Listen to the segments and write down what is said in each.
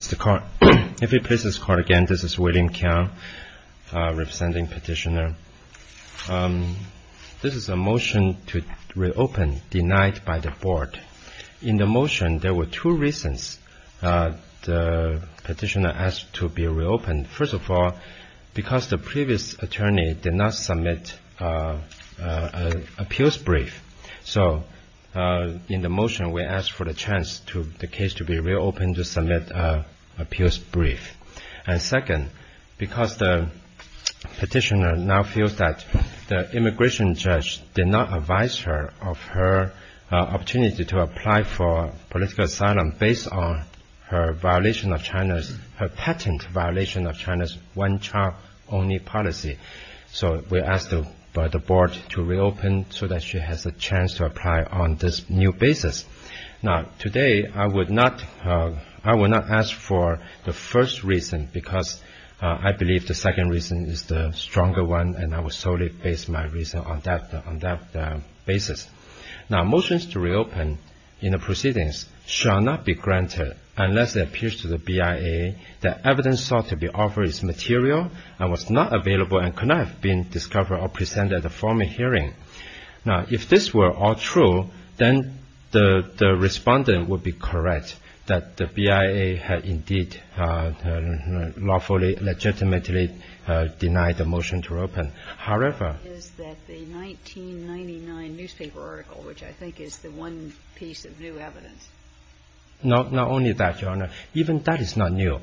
This is a motion to reopen denied by the board. In the motion there were two reasons the petitioner asked to be reopened. First of all, because the previous attorney did not submit an appeals brief. So, in the motion we asked for the chance for the case to be reopened to submit an appeals brief. And second, because the petitioner now feels that the immigration judge did not advise her of her opportunity to apply for political asylum based on her patent violation of China's one-child-only policy. So, we asked the board to reopen so that she has a chance to apply on this new basis. Now, today I will not ask for the first reason because I believe the second reason is the stronger one and I will solely base my reason on that basis. Now, motions to reopen in the proceedings shall not be granted unless it appears to the BIA that evidence sought to be offered is material and was not available and could not have been discovered or presented at a formal hearing. Now, if this were all true, then the respondent would be correct that the BIA had indeed lawfully, legitimately denied the motion to open. However... It is that the 1999 newspaper article, which I think is the one piece of new evidence. Not only that, Your Honor. Even that is not new.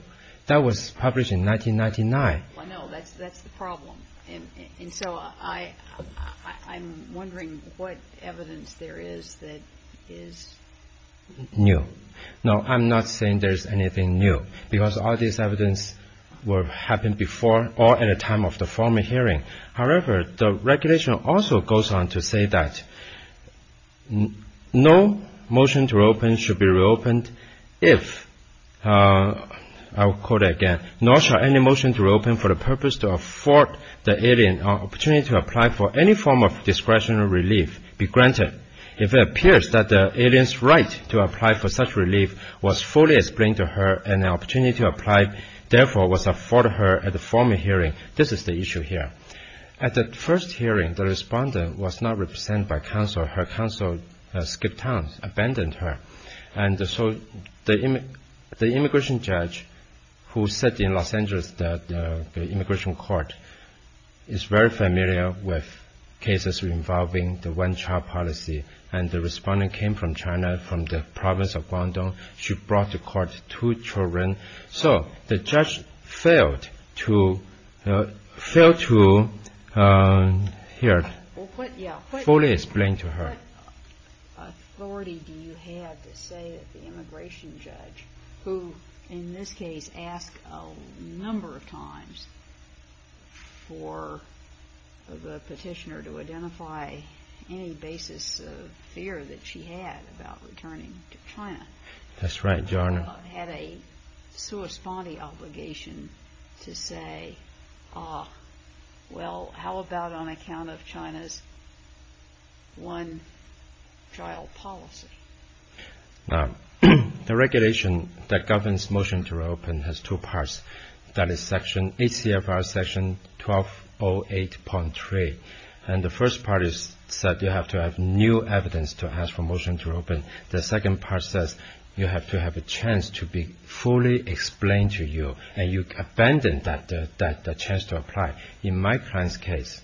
That was published in 1999. Well, no. That's the problem. And so, I'm wondering what evidence there is that is new. No, I'm not saying there's anything new because all this evidence happened before or at the time of the formal hearing. However, the regulation also goes on to say that no motion to reopen should be reopened if, I'll quote again, At the first hearing, the respondent was not represented by counsel. Her counsel skipped town, abandoned her. And so, the immigration judge who said in Los Angeles that the immigration court is very familiar with cases involving the one-child policy. And the respondent came from China, from the province of Guangdong. She brought to court two children. So, the judge failed to fully explain to her. What authority do you have to say that the immigration judge, who in this case asked a number of times for the petitioner to identify any basis of fear that she had about returning to China. Had a corresponding obligation to say, well, how about on account of China's one-child policy? Now, the regulation that governs motion to reopen has two parts. That is 8 CFR section 1208.3. And the first part is that you have to have new evidence to ask for motion to reopen. The second part says you have to have a chance to be fully explained to you and you abandon that chance to apply. In my client's case,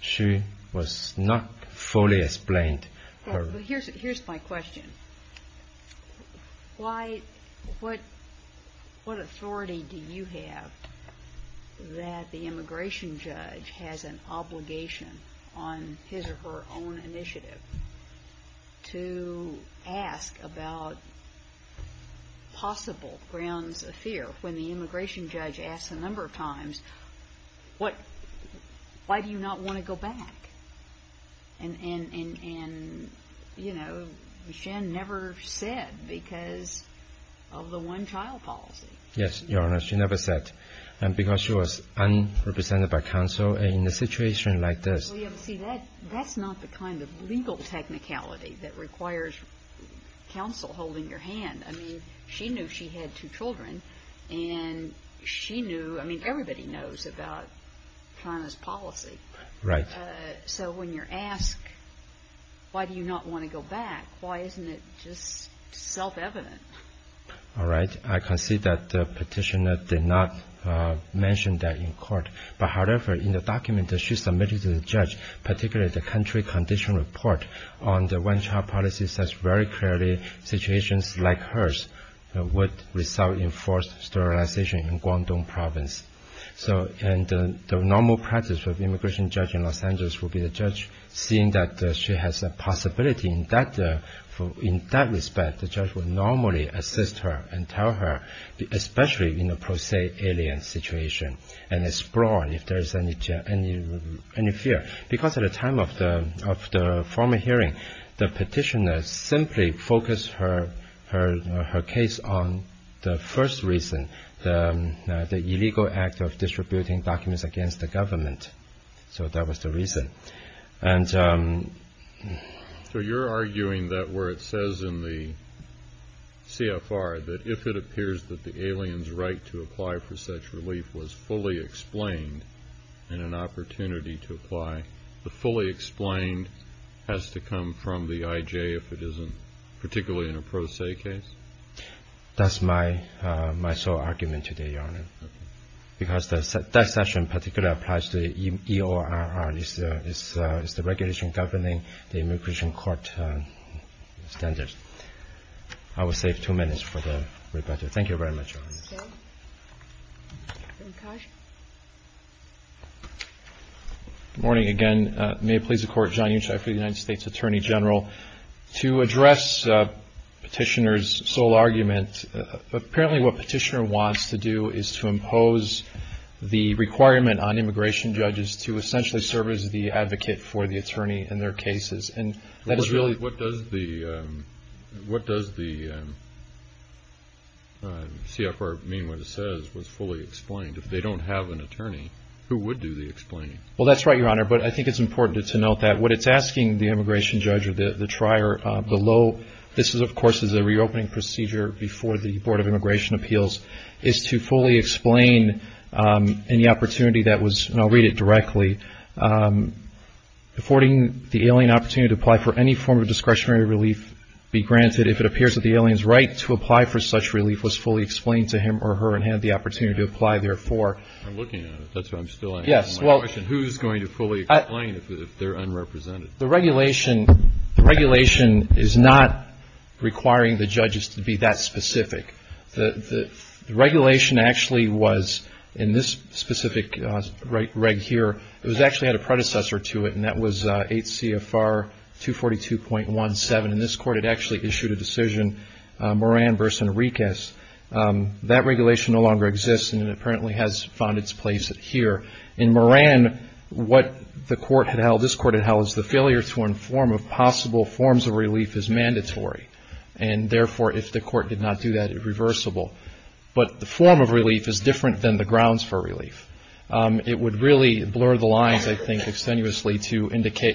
she was not fully explained. Here's my question. What authority do you have that the immigration judge has an obligation on his or her own initiative to ask about possible grounds of fear? When the immigration judge asked a number of times, why do you not want to go back? And, you know, she never said because of the one-child policy. Yes, Your Honor, she never said because she was unrepresented by counsel in a situation like this. That's not the kind of legal technicality that requires counsel holding your hand. I mean, she knew she had two children and she knew I mean, everybody knows about China's policy. Right. So when you're asked, why do you not want to go back? Why isn't it just self-evident? All right. I can see that the petitioner did not mention that in court. But however, in the document that she submitted to the judge, particularly the country condition report on the one-child policy, says very clearly situations like hers would result in forced sterilization in Guangdong province. So and the normal practice of immigration judge in Los Angeles would be the judge seeing that she has a possibility in that respect, the judge would normally assist her and tell her, especially in a pro se alien situation and explore if there is any fear. Because at the time of the formal hearing, the petitioner simply focused her case on the first reason, the illegal act of distributing documents against the government. So that was the reason. And so you're arguing that where it says in the CFR that if it appears that the aliens right to apply for such relief was fully explained and an opportunity to apply the fully explained has to come from the IJ if it isn't particularly in a pro se case. That's my sole argument today, Your Honor. Because that session particularly applies to EORR. It's the regulation governing the immigration court standards. I will save two minutes for the rebuttal. Thank you very much, Your Honor. Good morning again. May it please the Court. John Unshy for the United States Attorney General. To address petitioner's sole argument, apparently what petitioner wants to do is to impose the requirement on immigration judges to essentially serve as the advocate for the attorney in their cases. What does the CFR mean when it says was fully explained? If they don't have an attorney, who would do the explaining? Well, that's right, Your Honor. But I think it's important to note that what it's asking the immigration judge or the trier below, this of course is a reopening procedure before the Board of Immigration Appeals, is to fully explain any opportunity that was, and I'll read it directly, affording the alien opportunity to apply for any form of discretionary relief, be granted if it appears that the alien's right to apply for such relief was fully explained to him or her and had the opportunity to apply therefore. I'm looking at it. That's why I'm still asking my question. Who's going to fully explain if they're unrepresented? The regulation is not requiring the judges to be that specific. The regulation actually was in this specific reg here. It actually had a predecessor to it, and that was 8 CFR 242.17. And this court had actually issued a decision, Moran v. Enriquez. That regulation no longer exists, and it apparently has found its place here. In Moran, what this court had held is the failure to inform of possible forms of relief is mandatory. And therefore, if the court did not do that, it's reversible. But the form of relief is different than the grounds for relief. It would really blur the lines, I think, extenuously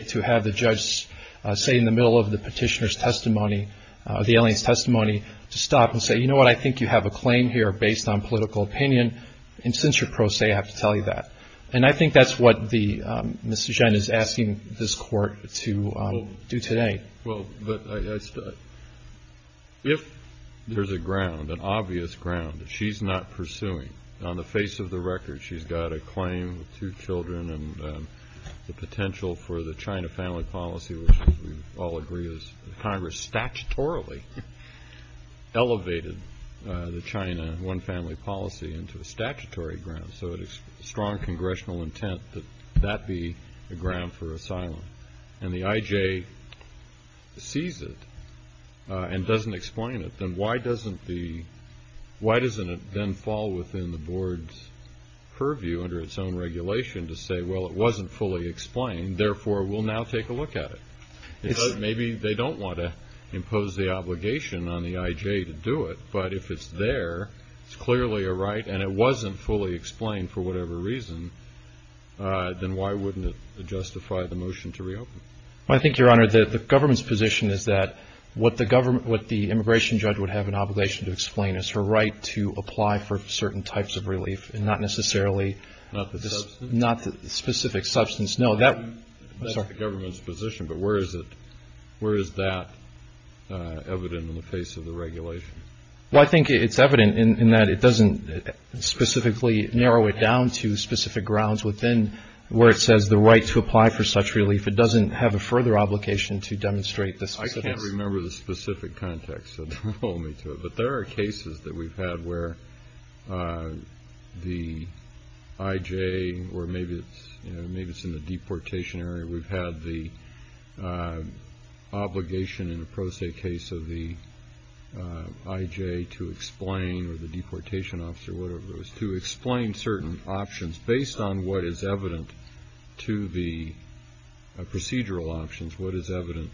to have the judge say in the middle of the petitioner's testimony, the alien's testimony, to stop and say, you know what, I think you have a claim here based on political opinion, and since you're pro se, I have to tell you that. And I think that's what Mr. Chen is asking this court to do today. Well, but if there's a ground, an obvious ground that she's not pursuing, on the face of the record, she's got a claim with two children and the potential for the China family policy, which we all agree is Congress statutorily elevated the China one-family policy into a statutory ground. So it's strong congressional intent that that be a ground for asylum. And the IJ sees it and doesn't explain it, then why doesn't it then fall within the board's purview under its own regulation to say, well, it wasn't fully explained, therefore we'll now take a look at it. Maybe they don't want to impose the obligation on the IJ to do it, but if it's there, it's clearly a right and it wasn't fully explained for whatever reason, then why wouldn't it justify the motion to reopen? I think, Your Honor, the government's position is that what the immigration judge would have an obligation to explain is her right to apply for certain types of relief and not necessarily the specific substance. No, that's the government's position. But where is that evident in the face of the regulation? Well, I think it's evident in that it doesn't specifically narrow it down to specific grounds within where it says the right to apply for such relief. It doesn't have a further obligation to demonstrate the specifics. I can't remember the specific context, so don't hold me to it. But there are cases that we've had where the IJ, or maybe it's in the deportation area, where we've had the obligation in a pro se case of the IJ to explain, or the deportation officer, whatever it was, to explain certain options based on what is evident to the procedural options, what is evident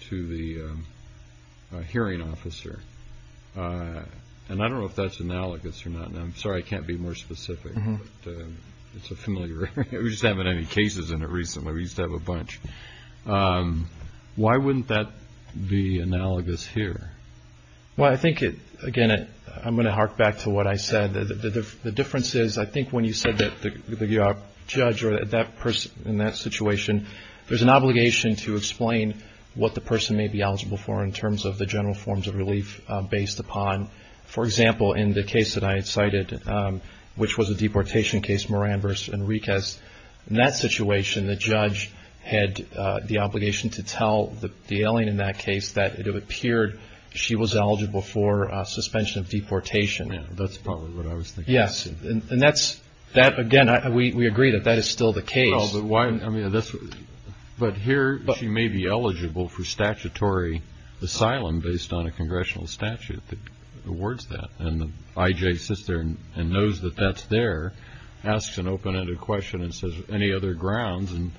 to the hearing officer. And I don't know if that's analogous or not. I'm sorry I can't be more specific, but it's a familiar area. We just haven't had any cases in it recently. We used to have a bunch. Why wouldn't that be analogous here? Well, I think, again, I'm going to hark back to what I said. The difference is I think when you said that the judge or that person in that situation, there's an obligation to explain what the person may be eligible for in terms of the general forms of relief based upon, for example, in the case that I cited, which was a deportation case, Moran v. Enriquez. In that situation, the judge had the obligation to tell the alien in that case that it appeared she was eligible for suspension of deportation. Yeah, that's probably what I was thinking. Yes, and that's, again, we agree that that is still the case. But here she may be eligible for statutory asylum based on a congressional statute that awards that. And the I.J. sits there and knows that that's there, asks an open-ended question and says, Any other grounds? And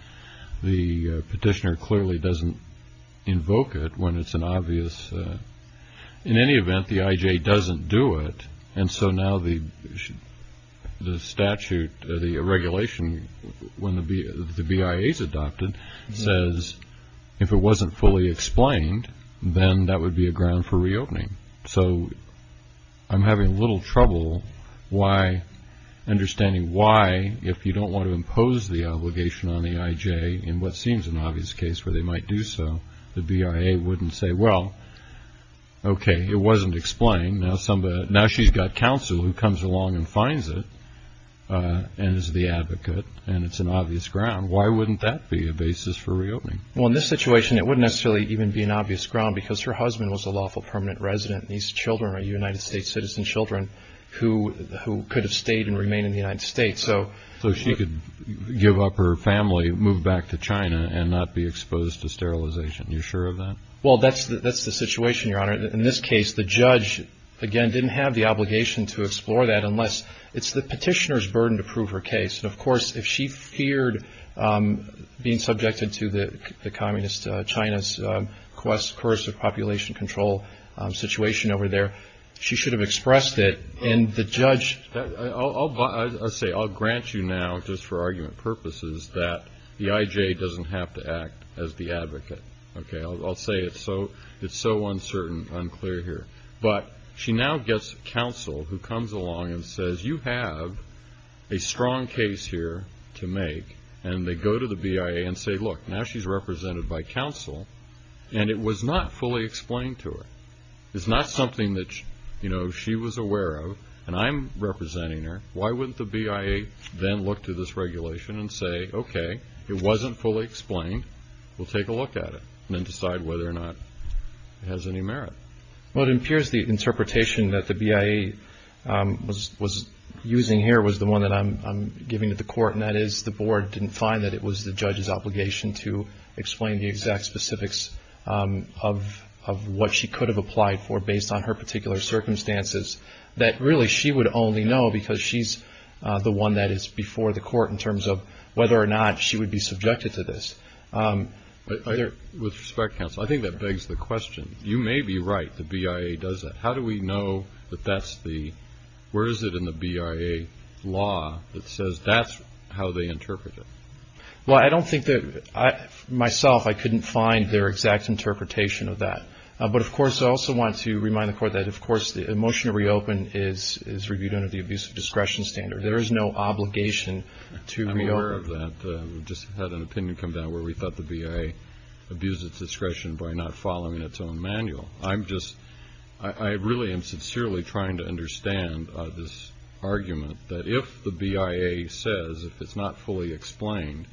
the petitioner clearly doesn't invoke it when it's an obvious. In any event, the I.J. doesn't do it. And so now the statute, the regulation, when the BIA is adopted, says if it wasn't fully explained, then that would be a ground for reopening. So I'm having a little trouble understanding why, if you don't want to impose the obligation on the I.J. in what seems an obvious case where they might do so, the BIA wouldn't say, Well, okay, it wasn't explained. Now she's got counsel who comes along and finds it and is the advocate, and it's an obvious ground. Why wouldn't that be a basis for reopening? Well, in this situation, it wouldn't necessarily even be an obvious ground because her husband was a lawful permanent resident, and these children are United States citizen children who could have stayed and remained in the United States. So she could give up her family, move back to China, and not be exposed to sterilization. Well, that's the situation, Your Honor. In this case, the judge, again, didn't have the obligation to explore that unless it's the petitioner's burden to prove her case. And, of course, if she feared being subjected to the communist China's coercive population control situation over there, she should have expressed it, and the judge. I'll say, I'll grant you now, just for argument purposes, that the I.J. doesn't have to act as the advocate. Okay, I'll say it's so uncertain, unclear here. But she now gets counsel who comes along and says, you have a strong case here to make, and they go to the BIA and say, look, now she's represented by counsel, and it was not fully explained to her. It's not something that, you know, she was aware of, and I'm representing her. Why wouldn't the BIA then look to this regulation and say, okay, it wasn't fully explained. We'll take a look at it and then decide whether or not it has any merit. Well, it appears the interpretation that the BIA was using here was the one that I'm giving to the court, and that is the board didn't find that it was the judge's obligation to explain the exact specifics of what she could have because she's the one that is before the court in terms of whether or not she would be subjected to this. With respect, counsel, I think that begs the question. You may be right, the BIA does that. How do we know that that's the, where is it in the BIA law that says that's how they interpret it? Well, I don't think that, myself, I couldn't find their exact interpretation of that. But, of course, I also want to remind the court that, of course, the motion to reopen is reviewed under the abusive discretion standard. There is no obligation to reopen. I'm aware of that. We just had an opinion come down where we thought the BIA abused its discretion by not following its own manual. I'm just, I really am sincerely trying to understand this argument that if the BIA says it's not fully explained,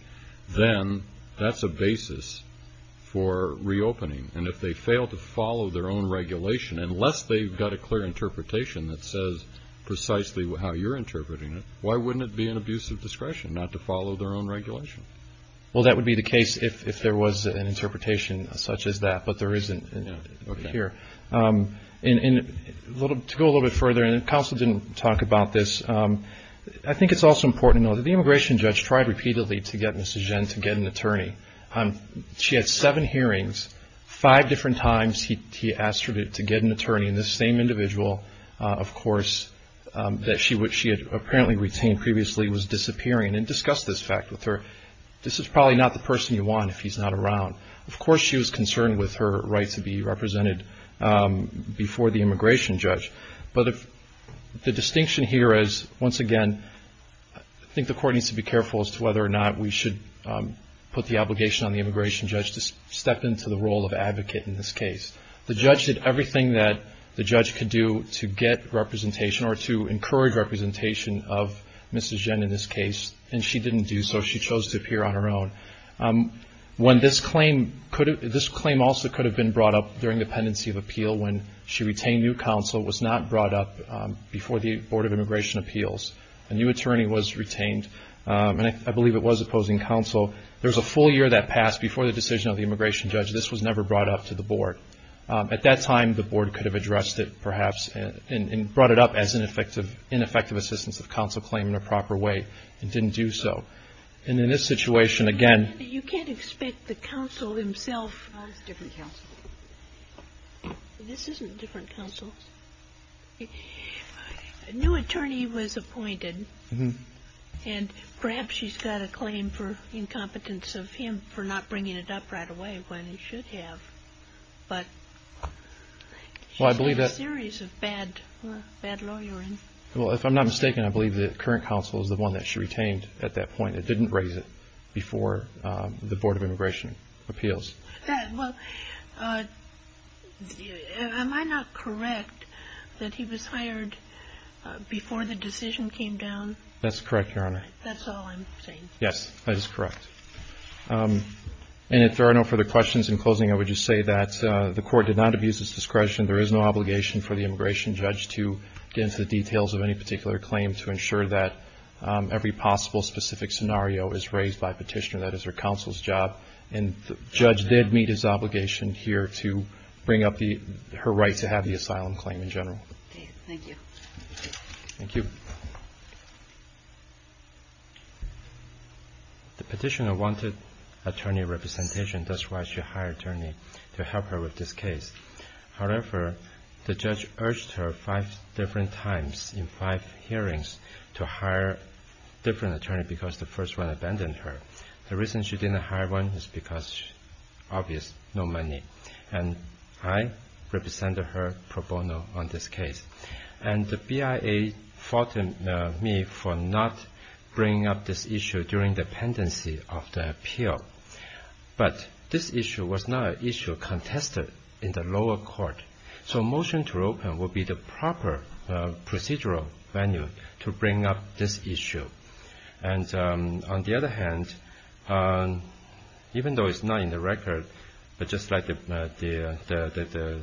then that's a basis for reopening. And if they fail to follow their own regulation, unless they've got a clear interpretation that says precisely how you're interpreting it, why wouldn't it be an abusive discretion not to follow their own regulation? Well, that would be the case if there was an interpretation such as that, but there isn't here. To go a little bit further, and counsel didn't talk about this, I think it's also important to know that the immigration judge tried repeatedly to get Mrs. Five different times he asked her to get an attorney. And this same individual, of course, that she had apparently retained previously was disappearing and discussed this fact with her. This is probably not the person you want if he's not around. Of course she was concerned with her right to be represented before the immigration judge. But the distinction here is, once again, I think the court needs to be careful as to whether or not we should put the obligation on the immigration judge to step into the role of advocate in this case. The judge did everything that the judge could do to get representation or to encourage representation of Mrs. Ginn in this case, and she didn't do so. She chose to appear on her own. This claim also could have been brought up during the pendency of appeal when she retained new counsel. It was not brought up before the Board of Immigration Appeals. A new attorney was retained, and I believe it was opposing counsel. So there was a full year that passed before the decision of the immigration judge. This was never brought up to the board. At that time, the board could have addressed it perhaps and brought it up as ineffective assistance of counsel claim in a proper way. It didn't do so. And in this situation, again- You can't expect the counsel himself- That's a different counsel. This isn't a different counsel. A new attorney was appointed. And perhaps she's got a claim for incompetence of him for not bringing it up right away when he should have. But she's a series of bad lawyers. Well, if I'm not mistaken, I believe that current counsel is the one that she retained at that point and didn't raise it before the Board of Immigration Appeals. Well, am I not correct that he was hired before the decision came down? That's correct, Your Honor. That's all I'm saying. Yes, that is correct. And if there are no further questions, in closing I would just say that the Court did not abuse its discretion. There is no obligation for the immigration judge to get into the details of any particular claim to ensure that every possible specific scenario is raised by petitioner. That is her counsel's job. And the judge did meet his obligation here to bring up her right to have the asylum claim in general. Okay, thank you. Thank you. The petitioner wanted attorney representation. That's why she hired an attorney to help her with this case. However, the judge urged her five different times in five hearings to hire a different attorney because the first one abandoned her. The reason she didn't hire one is because, obvious, no money. And I represented her pro bono on this case. And the BIA faulted me for not bringing up this issue during the pendency of the appeal. But this issue was not an issue contested in the lower court. So a motion to open would be the proper procedural venue to bring up this issue. And on the other hand, even though it's not in the record, but just like the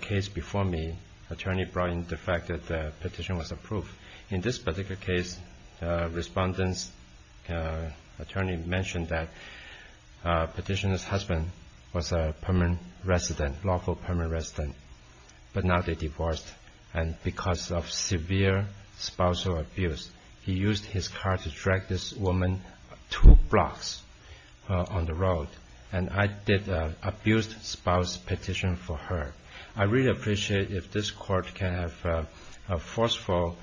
case before me, attorney brought in the fact that the petition was approved. In this particular case, respondent's attorney mentioned that petitioner's husband was a permanent resident, lawful permanent resident, but now they divorced. And because of severe spousal abuse, he used his car to drag this woman two blocks on the road. And I did an abused spouse petition for her. I really appreciate if this court can have a forceful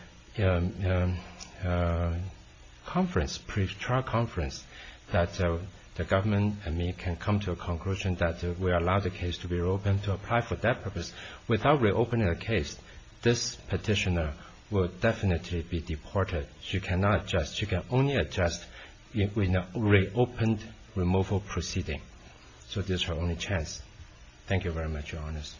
conference, pre-trial conference, that the government and me can come to a conclusion that we allow the case to be reopened, and to apply for that purpose without reopening the case, this petitioner will definitely be deported. She cannot adjust. She can only adjust in a reopened removal proceeding. So this is her only chance. Thank you very much, Your Honors.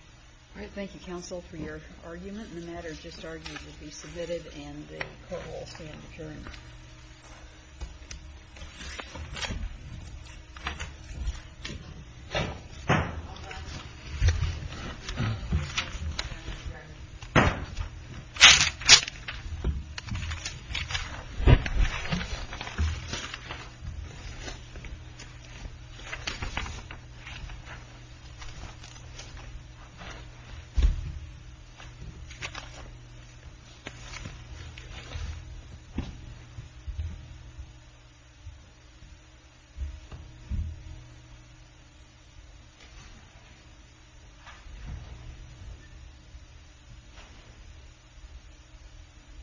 Thank you, counsel, for your argument. And the matter just argued will be submitted and the court will stand adjourned. Thank you.